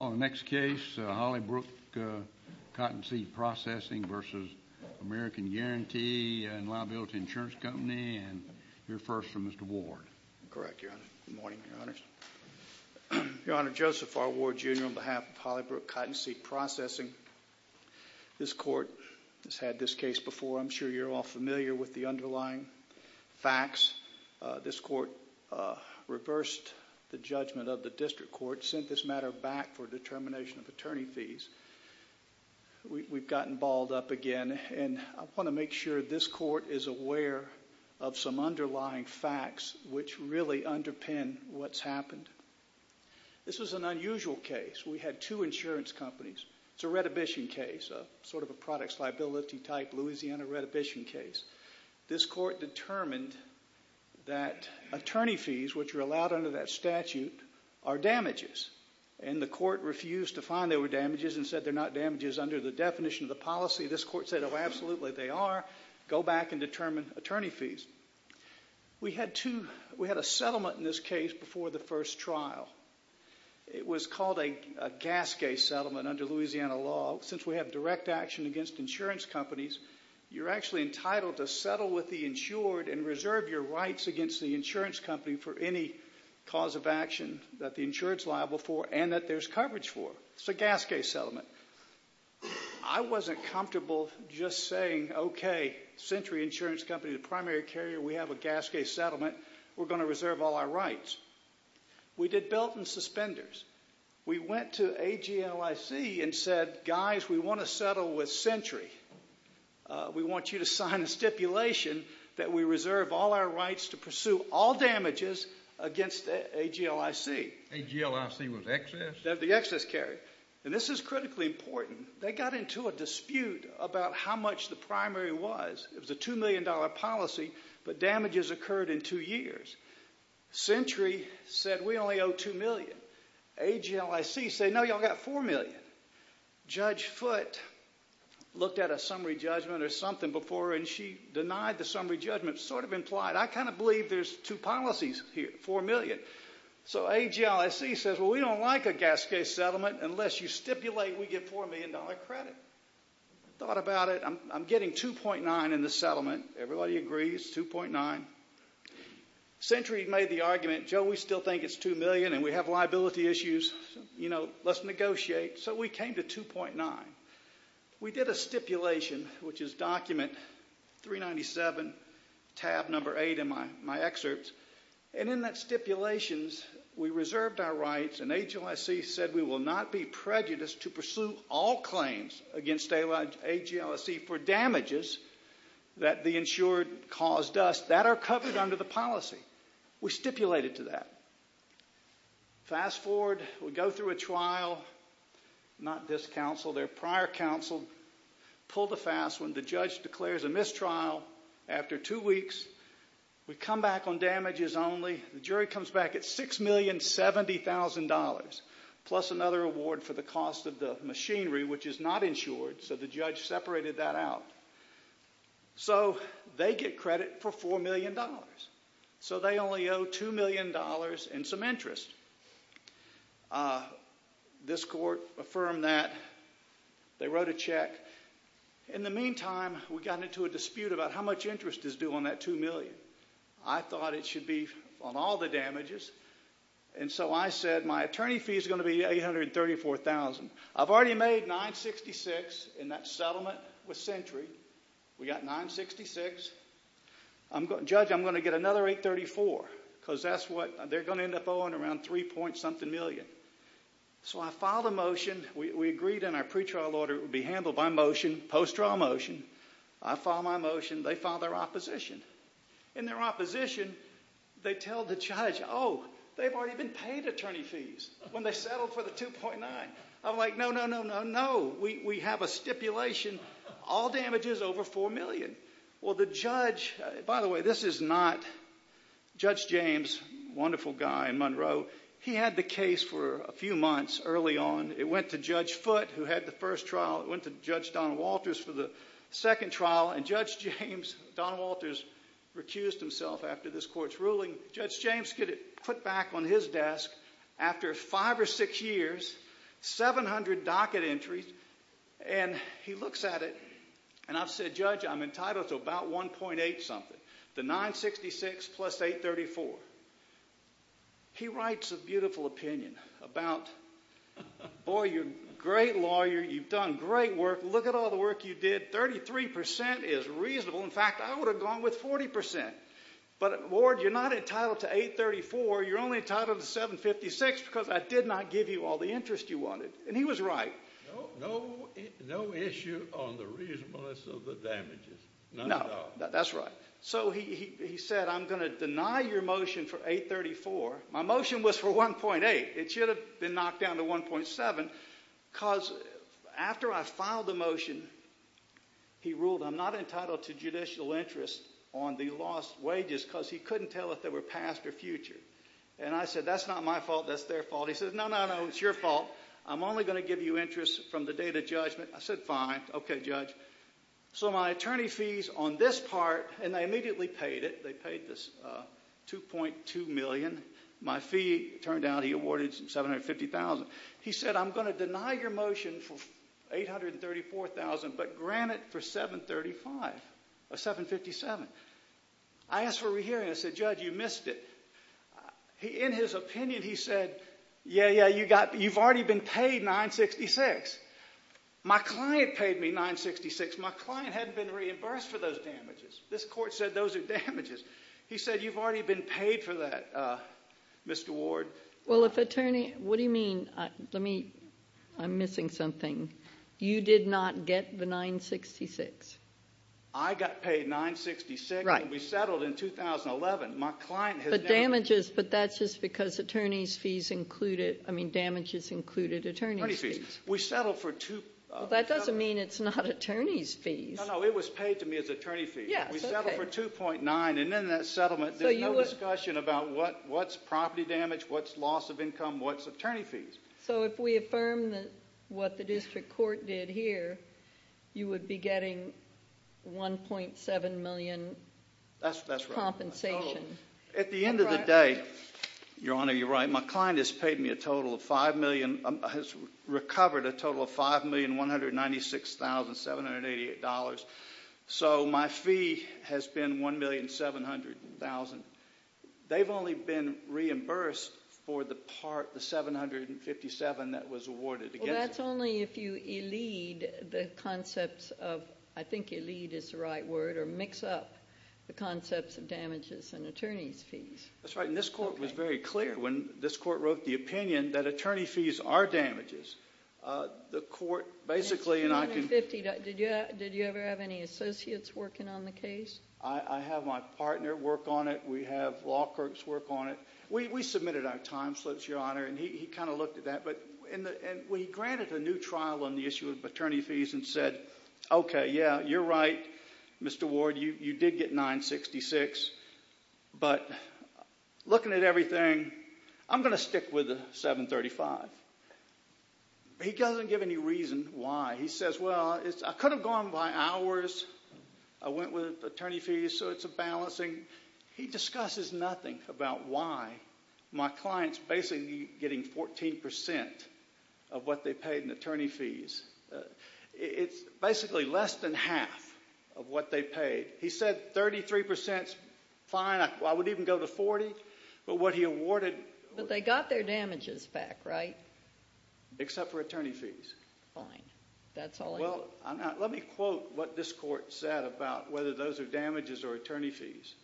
al. The next case, Hollybrook Cottonseed Processing v. American Guarantee and Liability Insurance Company. And you're first, Mr. Ward. Correct, Your Honor. Good morning, Your Honors. Your Honor, Joseph R. Ward, Jr. on behalf of Hollybrook Cottonseed Processing. This Court has had this case before. I'm sure you're all familiar with the underlying facts. This Court reversed the judgment of the District Court, sent this matter back for determination of attorney fees. We've gotten balled up again, and I want to make sure this Court is aware of some underlying facts which really underpin what's happened. This was an unusual case. We had two insurance companies. It's a retribution case, sort of a products liability type Louisiana retribution case. This Court determined that attorney fees, which are allowed under that statute, are damages. And the Court refused to find they were damages and said they're not damages under the definition of the policy. This Court said, oh, absolutely, they are. Go back and determine attorney fees. We had a settlement in this case before the first trial. It was called a gas case settlement under Louisiana law. Well, since we have direct action against insurance companies, you're actually entitled to settle with the insured and reserve your rights against the insurance company for any cause of action that the insured's liable for and that there's coverage for. It's a gas case settlement. I wasn't comfortable just saying, okay, Century Insurance Company, the primary carrier, we have a gas case settlement. We're going to reserve all our rights. We did belt and suspenders. We went to AGLIC and said, guys, we want to settle with Century. We want you to sign a stipulation that we reserve all our rights to pursue all damages against AGLIC. AGLIC was excess? They're the excess carrier. And this is critically important. They got into a dispute about how much the primary was. It was a $2 million policy, but damages occurred in two years. Century said, we only owe $2 million. AGLIC said, no, you all got $4 million. Judge Foote looked at a summary judgment or something before and she denied the summary judgment. Sort of implied, I kind of believe there's two policies here, $4 million. So AGLIC says, well, we don't like a gas case settlement unless you stipulate we get $4 million credit. I thought about it. I'm getting $2.9 in the settlement. Everybody agrees, $2.9. Century made the argument, Joe, we still think it's $2 million and we have liability issues. You know, let's negotiate. So we came to $2.9. We did a stipulation, which is document 397, tab number 8 in my excerpt. And in that stipulation, we reserved our rights and AGLIC said we will not be prejudiced to the insured caused us. That are covered under the policy. We stipulated to that. Fast forward, we go through a trial, not this counsel, their prior counsel pulled a fast one. The judge declares a mistrial after two weeks. We come back on damages only. The jury comes back at $6,070,000 plus another award for the cost of the machinery, which is not insured. So the judge separated that out. So they get credit for $4,000,000. So they only owe $2,000,000 in some interest. This court affirmed that. They wrote a check. In the meantime, we got into a dispute about how much interest is due on that $2,000,000. I thought it should be on all the damages. And so I said my attorney fee is going to be $834,000. I've already made $966,000 in that settlement with Century. We got $966,000. Judge, I'm going to get another $834,000 because that's what they're going to end up owing around three point something million. So I filed a motion. We agreed in our pretrial order it would be handled by motion, post trial motion. I filed my motion. They filed their opposition. In their opposition, they tell the judge, oh, they've already been paid attorney fees when they settled for the $2,900,000. I'm like, no, no, no, no, no. We have a stipulation. All damages over $4,000,000. Well, the judge, by the way, this is not Judge James, wonderful guy in Monroe. He had the case for a few months early on. It went to Judge Foote, who had the first trial. It went to Judge Don Walters for the second trial. And Judge James could put back on his desk, after five or six years, 700 docket entries. And he looks at it, and I've said, Judge, I'm entitled to about $1.8 something. The $966,000 plus $834,000. He writes a beautiful opinion about, boy, you're a great lawyer. You've done great work. Look at all the work you did. 33% is reasonable. In fact, I would have gone with 40%. But, Lord, you're not entitled to $834,000. You're only entitled to $756,000 because I did not give you all the interest you wanted. And he was right. No, no issue on the reasonableness of the damages, none at all. No, that's right. So he said, I'm going to deny your motion for $834,000. My motion was for $1.8. It should have been knocked down to $1.7. Because after I filed the motion, he ruled I'm not entitled to judicial interest on the lost wages because he couldn't tell if they were past or future. And I said, that's not my fault. That's their fault. He said, no, no, no. It's your fault. I'm only going to give you interest from the date of judgment. I said, fine. OK, Judge. So my attorney fees on this part, and they immediately paid it. They paid this $2.2 million. My fee, it turned out, he awarded $750,000. He said, I'm going to deny your motion for $834,000, but grant it for $757,000. I asked for a re-hearing. I said, Judge, you missed it. In his opinion, he said, yeah, yeah, you've already been paid $966,000. My client paid me $966,000. My client hadn't been reimbursed for those damages. This court said those are damages. He said, you've already been paid for that, Mr. Ward. Well, if attorney, what do you mean? Let me, I'm missing something. You did not get the $966,000. I got paid $966,000. Right. We settled in 2011. My client had damages. But damages, but that's just because attorney's fees included, I mean, damages included attorney's fees. Attorney's fees. We settled for two. That doesn't mean it's not attorney's fees. No, no, it was paid to me as attorney fees. Yes, OK. We settled for $2.9, and in that settlement, there's no discussion about what's property damage, what's loss of income, what's attorney fees. So if we affirm what the district court did here, you would be getting $1.7 million compensation. That's right. At the end of the day, Your Honor, you're right. My client has paid me a total of $5 million, has recovered a total of $5,196,788. So my fee has been $1,700,000. They've only been reimbursed for the part, the $757,000 that was awarded against them. Well, that's only if you elide the concepts of, I think elide is the right word, or mix up the concepts of damages and attorney's fees. That's right, and this court was very clear when this court wrote the opinion that attorney fees are damages. The court basically, and I can— $750,000, did you ever have any associates working on the case? I have my partner work on it. We have law clerks work on it. We submitted our time slips, Your Honor, and he kind of looked at that. And we granted a new trial on the issue of attorney fees and said, okay, yeah, you're right, Mr. Ward, you did get $966,000. But looking at everything, I'm going to stick with the $735,000. He doesn't give any reason why. He says, well, I could have gone by hours. I went with attorney fees, so it's a balancing. He discusses nothing about why. My client's basically getting 14% of what they paid in attorney fees. It's basically less than half of what they paid. He said 33% is fine. I would even go to 40, but what he awarded— But they got their damages back, right? Except for attorney fees. Fine. That's all I need. Well, let me quote what this court said about whether those are damages or attorney fees.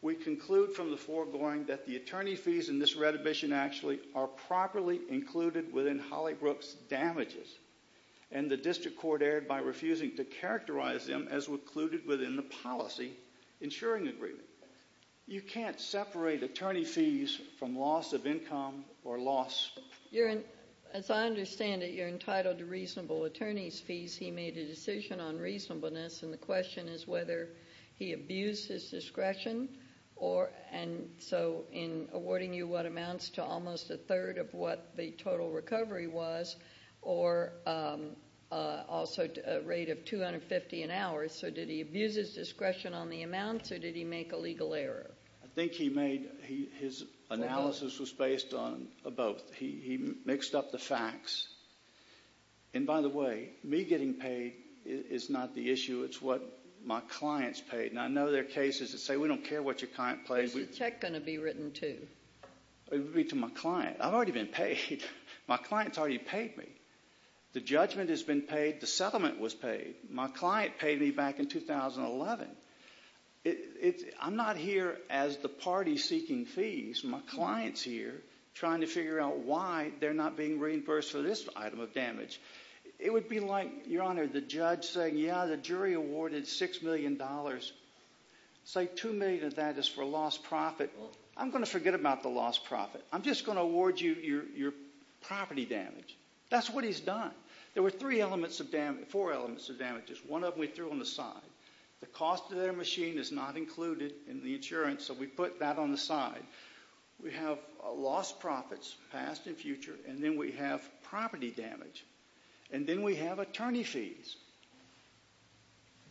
We conclude from the foregoing that the attorney fees in this retribution actually are properly included within Hollybrook's damages. And the district court erred by refusing to characterize them as included within the policy insuring agreement. You can't separate attorney fees from loss of income or loss— As I understand it, you're entitled to reasonable attorney fees. He made a decision on reasonableness, and the question is whether he abused his discretion. And so in awarding you what amounts to almost a third of what the total recovery was, or also a rate of $250 an hour. So did he abuse his discretion on the amounts, or did he make a legal error? I think he made—his analysis was based on both. He mixed up the facts. And by the way, me getting paid is not the issue. It's what my client's paid. And I know there are cases that say we don't care what your client pays. Is the check going to be written to? It would be to my client. I've already been paid. My client's already paid me. The judgment has been paid. The settlement was paid. My client paid me back in 2011. I'm not here as the party seeking fees. My client's here trying to figure out why they're not being reimbursed for this item of damage. It would be like, Your Honor, the judge saying, yeah, the jury awarded $6 million. Say $2 million of that is for lost profit. I'm going to forget about the lost profit. I'm just going to award you your property damage. That's what he's done. There were three elements of damage—four elements of damages. One of them we threw on the side. The cost of their machine is not included in the insurance, so we put that on the side. We have lost profits, past and future, and then we have property damage. And then we have attorney fees.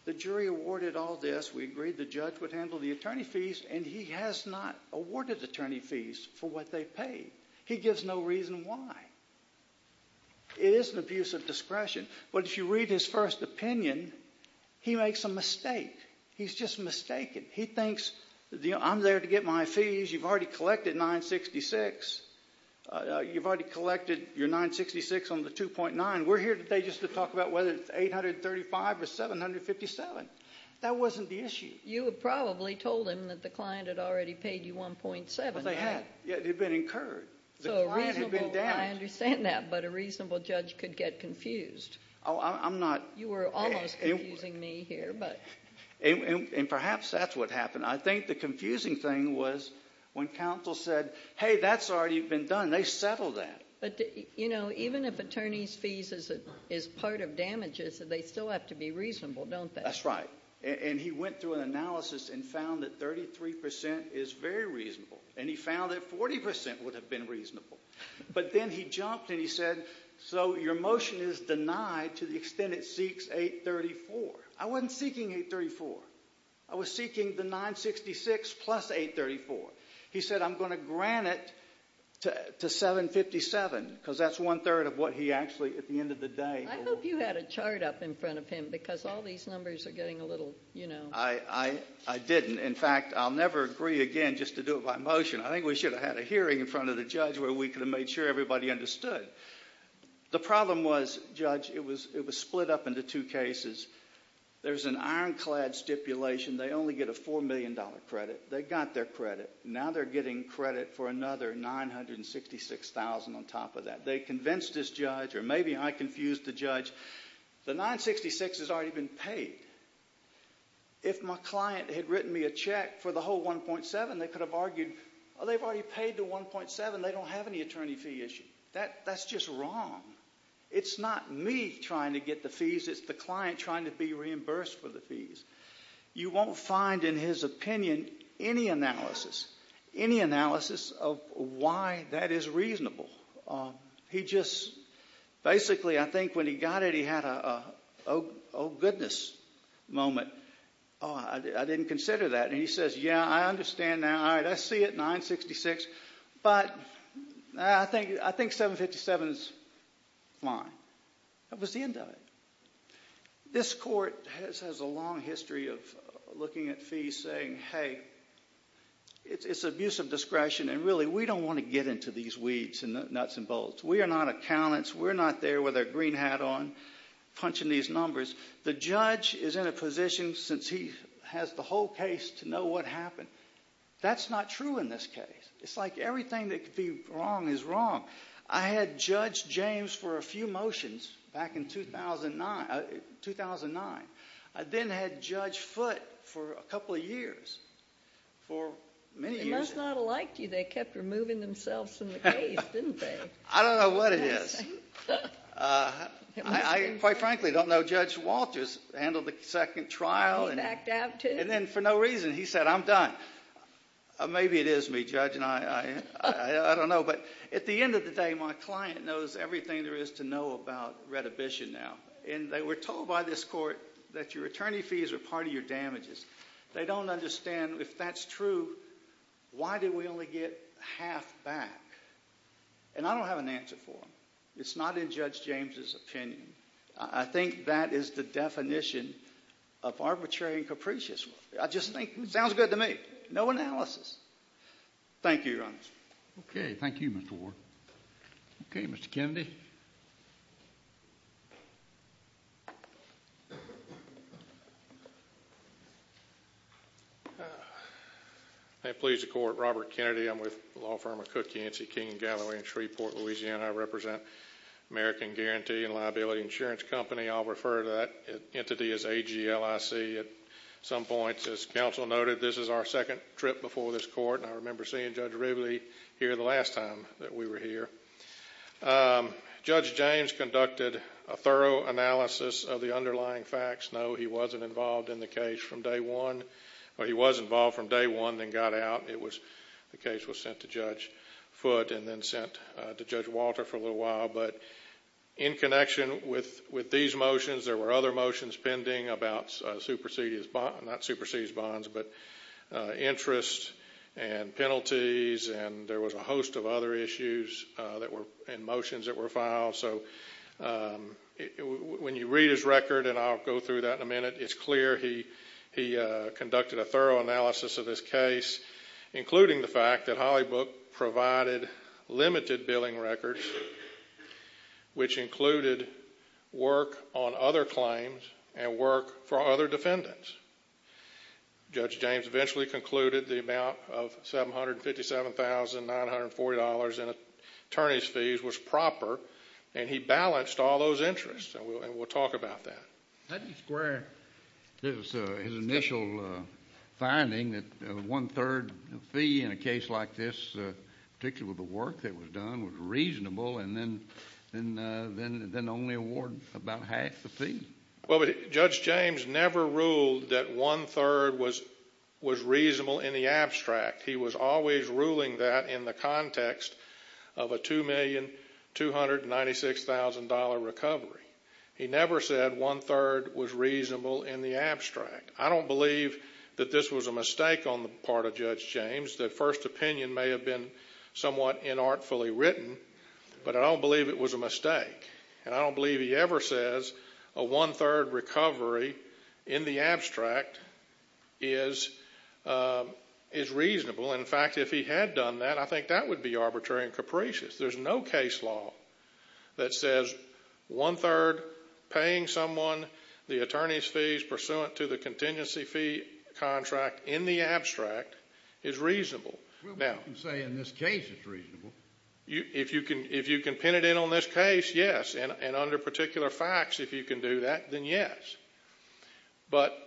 The jury awarded all this. We agreed the judge would handle the attorney fees, and he has not awarded attorney fees for what they paid. He gives no reason why. It is an abuse of discretion. But if you read his first opinion, he makes a mistake. He's just mistaken. He thinks, I'm there to get my fees. You've already collected $966. You've already collected your $966 on the $2.9. We're here today just to talk about whether it's $835 or $757. That wasn't the issue. You have probably told him that the client had already paid you $1.7. Well, they had. It had been incurred. The client had been damaged. I understand that, but a reasonable judge could get confused. Oh, I'm not— You were almost confusing me here, but— And perhaps that's what happened. I think the confusing thing was when counsel said, hey, that's already been done. They settled that. But, you know, even if attorney fees is part of damages, they still have to be reasonable, don't they? That's right. And he went through an analysis and found that 33% is very reasonable. And he found that 40% would have been reasonable. But then he jumped and he said, so your motion is denied to the extent it seeks $834. I wasn't seeking $834. I was seeking the $966 plus $834. He said, I'm going to grant it to $757 because that's one-third of what he actually, at the end of the day— I hope you had a chart up in front of him because all these numbers are getting a little, you know— I didn't. In fact, I'll never agree again just to do it by motion. I think we should have had a hearing in front of the judge where we could have made sure everybody understood. The problem was, Judge, it was split up into two cases. There's an ironclad stipulation. They only get a $4 million credit. They got their credit. Now they're getting credit for another $966,000 on top of that. They convinced this judge, or maybe I confused the judge, the $966 has already been paid. If my client had written me a check for the whole $1.7, they could have argued, oh, they've already paid the $1.7. They don't have any attorney fee issue. That's just wrong. It's not me trying to get the fees. It's the client trying to be reimbursed for the fees. You won't find, in his opinion, any analysis, any analysis of why that is reasonable. He just—basically, I think when he got it, he had a, oh, goodness moment. Oh, I didn't consider that. And he says, yeah, I understand now. All right, I see it, $966. But I think $757,000 is fine. That was the end of it. This court has a long history of looking at fees saying, hey, it's abuse of discretion, and really we don't want to get into these weeds and nuts and bolts. We are not accountants. We're not there with our green hat on, punching these numbers. The judge is in a position, since he has the whole case, to know what happened. That's not true in this case. It's like everything that could be wrong is wrong. I had judged James for a few motions back in 2009. I then had judged Foote for a couple of years, for many years. They must not have liked you. They kept removing themselves from the case, didn't they? I don't know what it is. I, quite frankly, don't know Judge Walters handled the second trial. He backed out, too. And then, for no reason, he said, I'm done. Maybe it is me, Judge, and I don't know. But at the end of the day, my client knows everything there is to know about Redhibition now. And they were told by this court that your attorney fees are part of your damages. They don't understand, if that's true, why did we only get half back? And I don't have an answer for them. It's not in Judge James' opinion. I think that is the definition of arbitrary and capricious. I just think it sounds good to me. No analysis. Thank you, Your Honor. Okay. Thank you, Mr. Ward. Okay, Mr. Kennedy. I plead the court, Robert Kennedy. I'm with the law firm of Cook, Yancey, King & Galloway in Shreveport, Louisiana. I represent American Guarantee and Liability Insurance Company. I'll refer to that entity as AGLIC at some point. As counsel noted, this is our second trip before this court, and I remember seeing Judge Rivley here the last time that we were here. Judge James conducted a thorough analysis of the underlying facts. No, he wasn't involved in the case from day one. Well, he was involved from day one, then got out. The case was sent to Judge Foote and then sent to Judge Walter for a little while. But in connection with these motions, there were other motions pending about interest and penalties, and there was a host of other issues and motions that were filed. So when you read his record, and I'll go through that in a minute, it's clear he conducted a thorough analysis of this case. Including the fact that Hollybook provided limited billing records, which included work on other claims and work for other defendants. Judge James eventually concluded the amount of $757,940 in attorney's fees was proper, and he balanced all those interests, and we'll talk about that. How do you square his initial finding that a one-third fee in a case like this, particularly with the work that was done, was reasonable, and then only award about half the fee? Well, Judge James never ruled that one-third was reasonable in the abstract. He was always ruling that in the context of a $2,296,000 recovery. He never said one-third was reasonable in the abstract. I don't believe that this was a mistake on the part of Judge James. The first opinion may have been somewhat inartfully written, but I don't believe it was a mistake. And I don't believe he ever says a one-third recovery in the abstract is reasonable. In fact, if he had done that, I think that would be arbitrary and capricious. There's no case law that says one-third paying someone the attorney's fees pursuant to the contingency fee contract in the abstract is reasonable. Well, we can say in this case it's reasonable. If you can pin it in on this case, yes, and under particular facts, if you can do that, then yes. But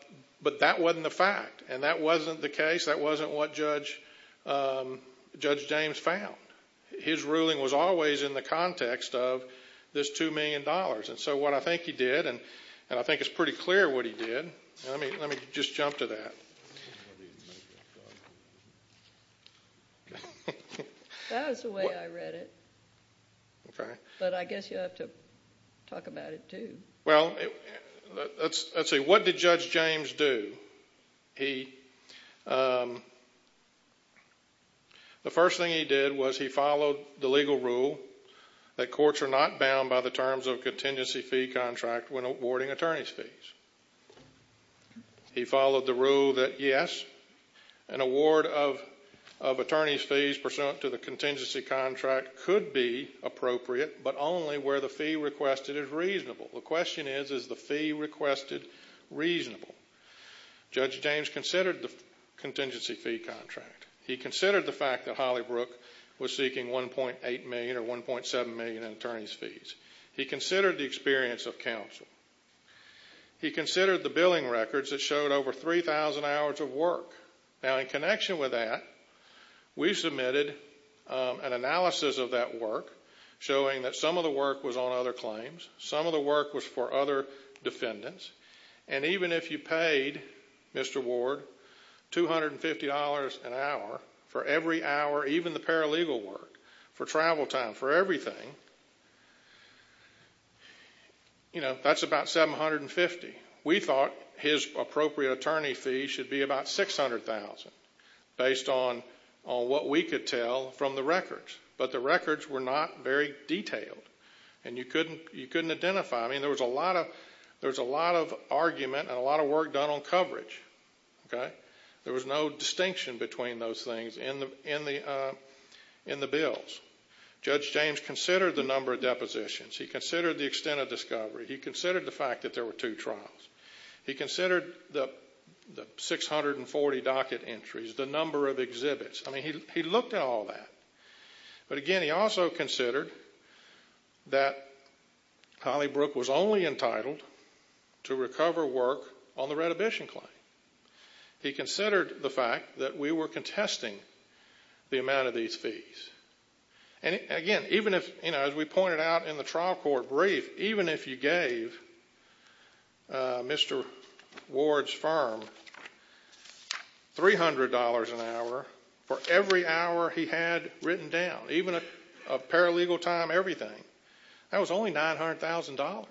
that wasn't the fact, and that wasn't the case. That wasn't what Judge James found. His ruling was always in the context of this $2 million. And so what I think he did, and I think it's pretty clear what he did. Let me just jump to that. That was the way I read it. Okay. But I guess you have to talk about it too. Well, let's see. What did Judge James do? The first thing he did was he followed the legal rule that courts are not bound by the terms of contingency fee contract when awarding attorney's fees. He followed the rule that, yes, an award of attorney's fees pursuant to the contingency contract could be appropriate, but only where the fee requested is reasonable. The question is, is the fee requested reasonable? Judge James considered the contingency fee contract. He considered the fact that Holly Brook was seeking $1.8 million or $1.7 million in attorney's fees. He considered the experience of counsel. He considered the billing records that showed over 3,000 hours of work. Now, in connection with that, we submitted an analysis of that work showing that some of the work was on other claims, some of the work was for other defendants, and even if you paid Mr. Ward $250 an hour for every hour, even the paralegal work, for travel time, for everything, you know, that's about $750. We thought his appropriate attorney fee should be about $600,000 based on what we could tell from the records, but the records were not very detailed, and you couldn't identify them. There was a lot of argument and a lot of work done on coverage. There was no distinction between those things in the bills. Judge James considered the number of depositions. He considered the extent of discovery. He considered the fact that there were two trials. I mean, he looked at all that. But, again, he also considered that Holly Brook was only entitled to recover work on the redhibition claim. He considered the fact that we were contesting the amount of these fees. And, again, even if, you know, as we pointed out in the trial court brief, even if you gave Mr. Ward's firm $300 an hour for every hour he had written down, even a paralegal time, everything, that was only $900,000.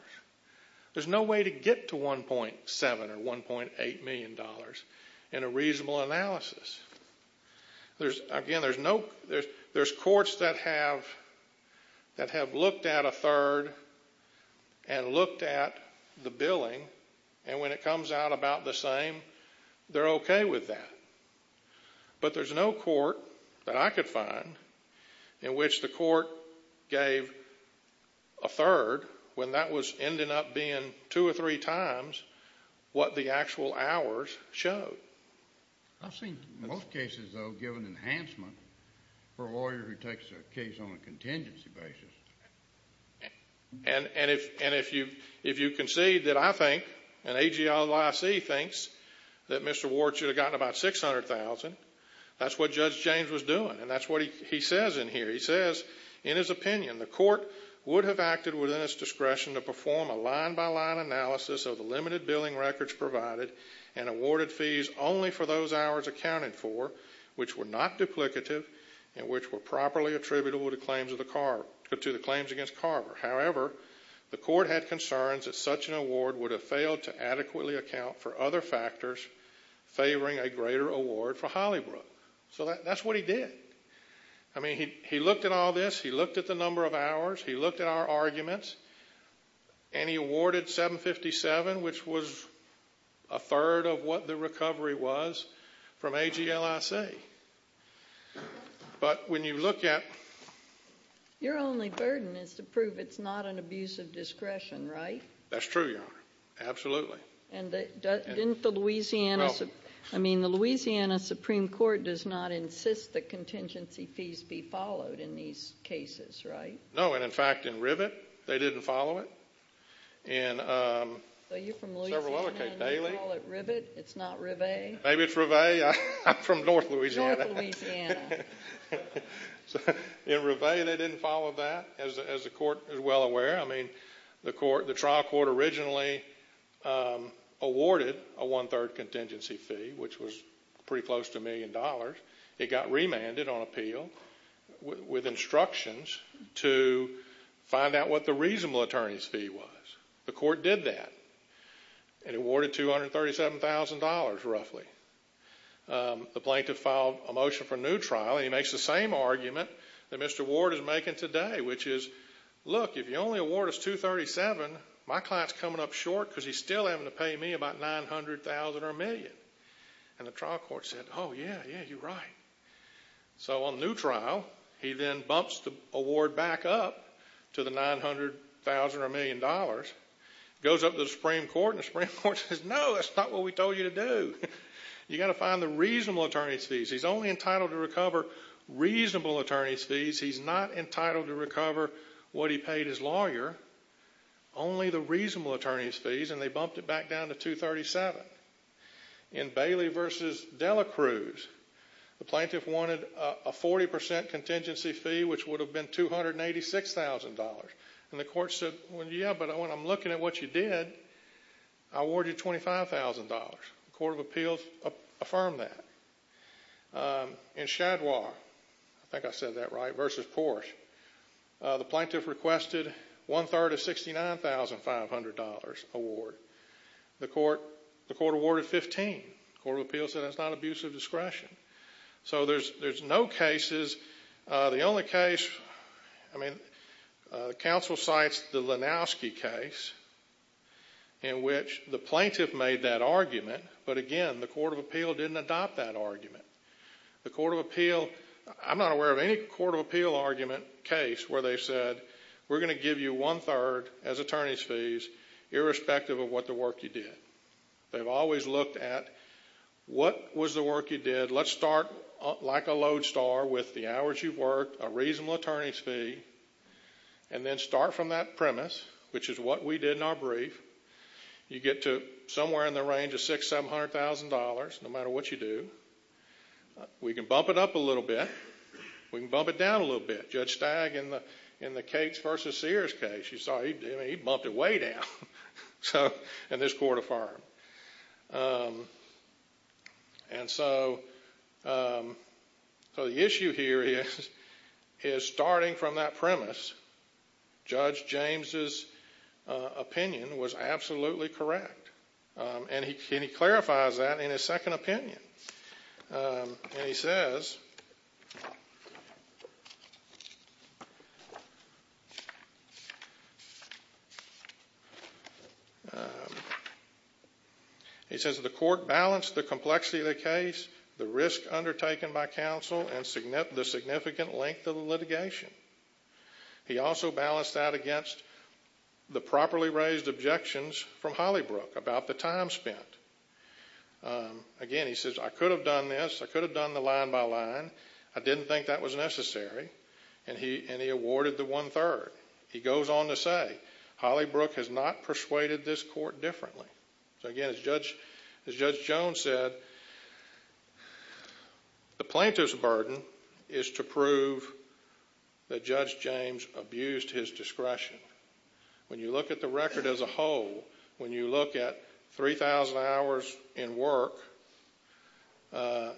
There's no way to get to $1.7 or $1.8 million in a reasonable analysis. Again, there's courts that have looked at a third and looked at the billing, and when it comes out about the same, they're okay with that. But there's no court that I could find in which the court gave a third when that was ending up being two or three times what the actual hours showed. I've seen most cases, though, given enhancement for a lawyer who takes a case on a contingency basis. And if you concede that I think, and AGLIC thinks, that Mr. Ward should have gotten about $600,000, that's what Judge James was doing, and that's what he says in here. He says, in his opinion, the court would have acted within its discretion to perform a line-by-line analysis of the limited billing records provided and awarded fees only for those hours accounted for which were not duplicative and which were properly attributable to the claims against Carver. However, the court had concerns that such an award would have failed to adequately account for other factors favoring a greater award for Hollybrook. So that's what he did. I mean, he looked at all this. He looked at the number of hours. He looked at our arguments, and he awarded $757,000, which was a third of what the recovery was from AGLIC. But when you look at— Your only burden is to prove it's not an abuse of discretion, right? That's true, Your Honor. Absolutely. And didn't the Louisiana— No. I mean, the Louisiana Supreme Court does not insist that contingency fees be followed in these cases, right? No, and in fact, in Rivet, they didn't follow it. So you're from Louisiana and you call it Rivet? It's not Rivet? Maybe it's Rivet. I'm from north Louisiana. North Louisiana. In Rivet, they didn't follow that, as the court is well aware. I mean, the trial court originally awarded a one-third contingency fee, which was pretty close to a million dollars. It got remanded on appeal with instructions to find out what the reasonable attorney's fee was. The court did that and awarded $237,000, roughly. The plaintiff filed a motion for a new trial, and he makes the same argument that Mr. Ward is making today, which is, look, if you only award us $237,000, my client's coming up short because he's still having to pay me about $900,000 or a million. And the trial court said, oh, yeah, yeah, you're right. So on the new trial, he then bumps the award back up to the $900,000 or a million, goes up to the Supreme Court, and the Supreme Court says, no, that's not what we told you to do. You've got to find the reasonable attorney's fees. He's only entitled to recover reasonable attorney's fees. He's not entitled to recover what he paid his lawyer, only the reasonable attorney's fees, and they bumped it back down to $237,000. In Bailey v. Delacruz, the plaintiff wanted a 40% contingency fee, which would have been $286,000. And the court said, yeah, but when I'm looking at what you did, I award you $25,000. The court of appeals affirmed that. In Shadwar, I think I said that right, v. Port, the plaintiff requested one-third of $69,500 award. The court awarded $15,000. The court of appeals said that's not abuse of discretion. So there's no cases. The only case, I mean, the counsel cites the Lenowski case in which the plaintiff made that argument, but, again, the court of appeal didn't adopt that argument. The court of appeal, I'm not aware of any court of appeal argument case where they said, we're going to give you one-third as attorney's fees irrespective of what the work you did. They've always looked at what was the work you did. Let's start like a lodestar with the hours you've worked, a reasonable attorney's fee, and then start from that premise, which is what we did in our brief. You get to somewhere in the range of $600,000, $700,000, no matter what you do. We can bump it up a little bit. We can bump it down a little bit. Judge Stagg, in the Cates v. Sears case, you saw he bumped it way down in this court of firm. And so the issue here is, starting from that premise, Judge James' opinion was absolutely correct. And he clarifies that in his second opinion. And he says, he says, the court balanced the complexity of the case, the risk undertaken by counsel, and the significant length of the litigation. He also balanced that against the properly raised objections from Hollybrook about the time spent. Again, he says, He goes on to say, So again, as Judge Jones said, The plaintiff's burden is to prove that Judge James abused his discretion. When you look at the record as a whole, when you look at 3,000 hours in work,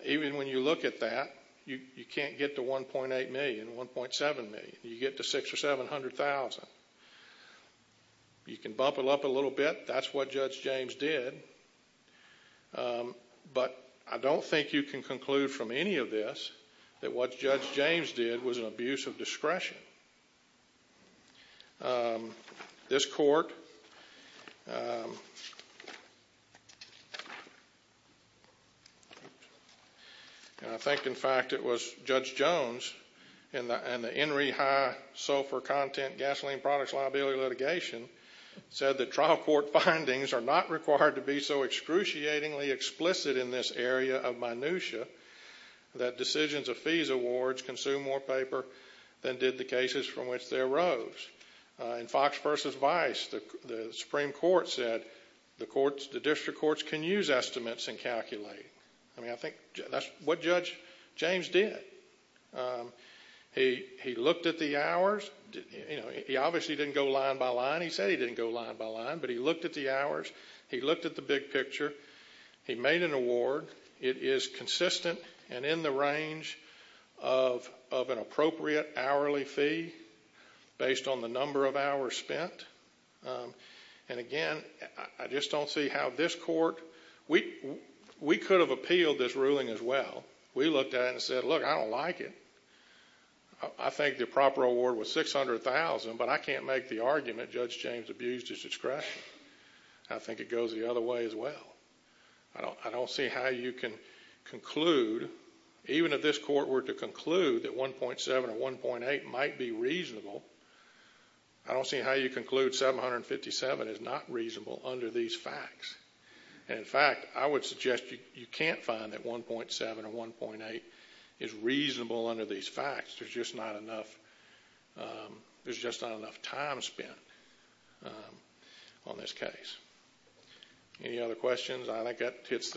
even when you look at that, you can't get to $1.8 million, $1.7 million. You get to $600,000 or $700,000. You can bump it up a little bit. That's what Judge James did. But I don't think you can conclude from any of this that what Judge James did was an abuse of discretion. This court, and I think, in fact, it was Judge Jones, in the Henry High Sulfur Content Gasoline Products Liability litigation, said that trial court findings are not required to be so excruciatingly explicit in this area of minutia that decisions of fees awards consume more paper than did the cases from which they arose. In Fox v. Vice, the Supreme Court said, I mean, I think that's what Judge James did. He looked at the hours. He obviously didn't go line by line. He said he didn't go line by line, but he looked at the hours. He looked at the big picture. He made an award. It is consistent and in the range of an appropriate hourly fee based on the number of hours spent. And again, I just don't see how this court, we could have appealed this ruling as well. We looked at it and said, look, I don't like it. I think the proper award was $600,000, but I can't make the argument Judge James abused his discretion. I think it goes the other way as well. I don't see how you can conclude, even if this court were to conclude that 1.7 or 1.8 might be reasonable, I don't see how you conclude 757 is not reasonable under these facts. And in fact, I would suggest you can't find that 1.7 or 1.8 is reasonable under these facts. There's just not enough time spent on this case. Any other questions? I think that hits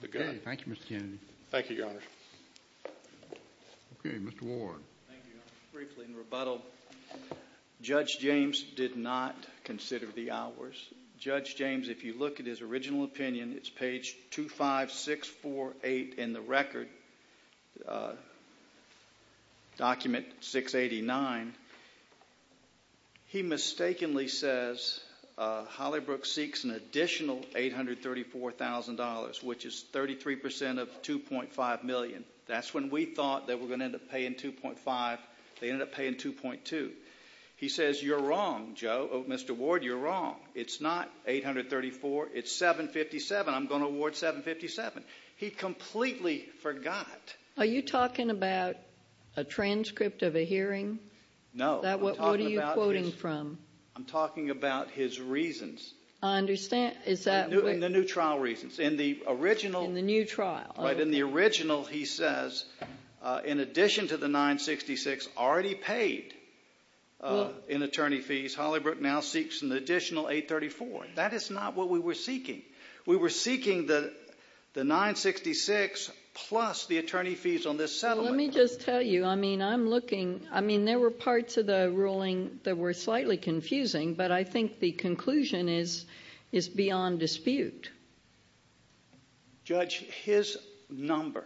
the gun. Thank you, Mr. Kennedy. Thank you, Your Honor. Okay, Mr. Ward. Thank you, Your Honor. Briefly, in rebuttal, Judge James did not consider the hours. Judge James, if you look at his original opinion, it's page 25648 in the record, document 689. He mistakenly says Holybrook seeks an additional $834,000, which is 33% of $2.5 million. That's when we thought they were going to end up paying $2.5. They ended up paying $2.2. He says you're wrong, Mr. Ward, you're wrong. It's not $834,000, it's $757,000. I'm going to award $757,000. He completely forgot. Are you talking about a transcript of a hearing? No. What are you quoting from? I'm talking about his reasons. I understand. In the new trial reasons. In the original. In the new trial. Right. In the original, he says, in addition to the $966,000 already paid in attorney fees, Holybrook now seeks an additional $834,000. That is not what we were seeking. We were seeking the $966,000 plus the attorney fees on this settlement. Let me just tell you, I mean, I'm looking, I mean, there were parts of the ruling that were slightly confusing, but I think the conclusion is beyond dispute. Judge, his number,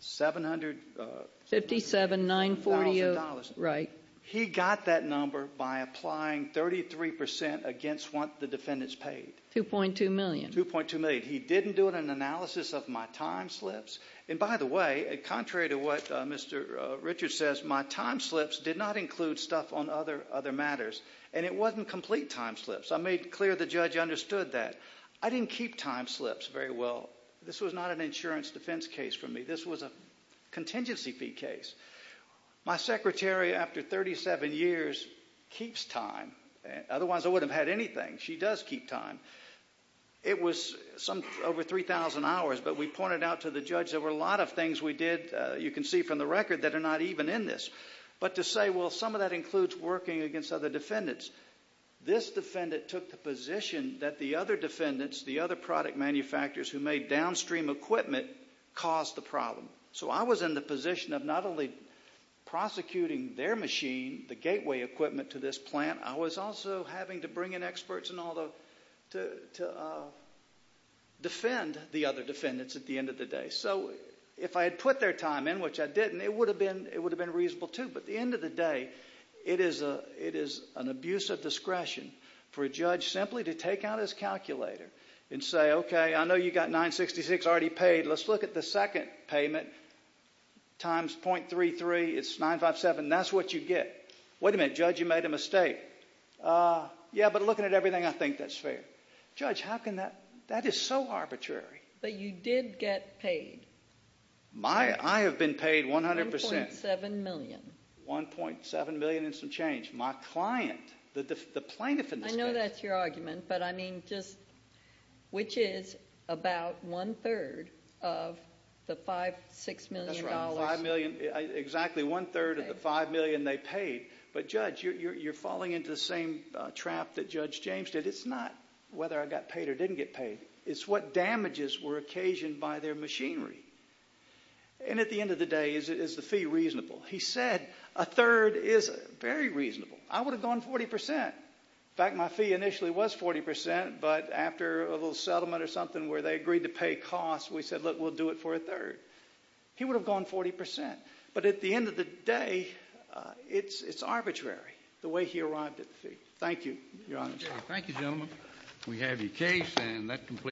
$757,000. Right. He got that number by applying 33% against what the defendants paid. $2.2 million. $2.2 million. He didn't do an analysis of my time slips. And, by the way, contrary to what Mr. Richards says, my time slips did not include stuff on other matters, and it wasn't complete time slips. I made clear the judge understood that. I didn't keep time slips very well. This was not an insurance defense case for me. This was a contingency fee case. My secretary, after 37 years, keeps time. Otherwise, I wouldn't have had anything. She does keep time. It was over 3,000 hours, but we pointed out to the judge there were a lot of things we did, you can see from the record, that are not even in this. But to say, well, some of that includes working against other defendants, this defendant took the position that the other defendants, the other product manufacturers who made downstream equipment, caused the problem. So I was in the position of not only prosecuting their machine, the gateway equipment to this plant, I was also having to bring in experts and all to defend the other defendants at the end of the day. So if I had put their time in, which I didn't, it would have been reasonable too. But at the end of the day, it is an abuse of discretion for a judge simply to take out his calculator and say, okay, I know you've got 966 already paid. Let's look at the second payment times .33. It's 957. That's what you get. Wait a minute, Judge, you made a mistake. Yeah, but looking at everything, I think that's fair. Judge, how can that? That is so arbitrary. But you did get paid. I have been paid 100%. $1.7 million. $1.7 million and some change. My client, the plaintiff in this case. I know that's your argument, but I mean just which is about one-third of the $5 million, $6 million. That's right, exactly one-third of the $5 million they paid. But, Judge, you're falling into the same trap that Judge James did. It's not whether I got paid or didn't get paid. It's what damages were occasioned by their machinery. And at the end of the day, is the fee reasonable? He said a third is very reasonable. I would have gone 40%. In fact, my fee initially was 40%. But after a little settlement or something where they agreed to pay costs, we said, look, we'll do it for a third. He would have gone 40%. But at the end of the day, it's arbitrary, the way he arrived at the fee. Thank you, Your Honor. Thank you, gentlemen. We have your case.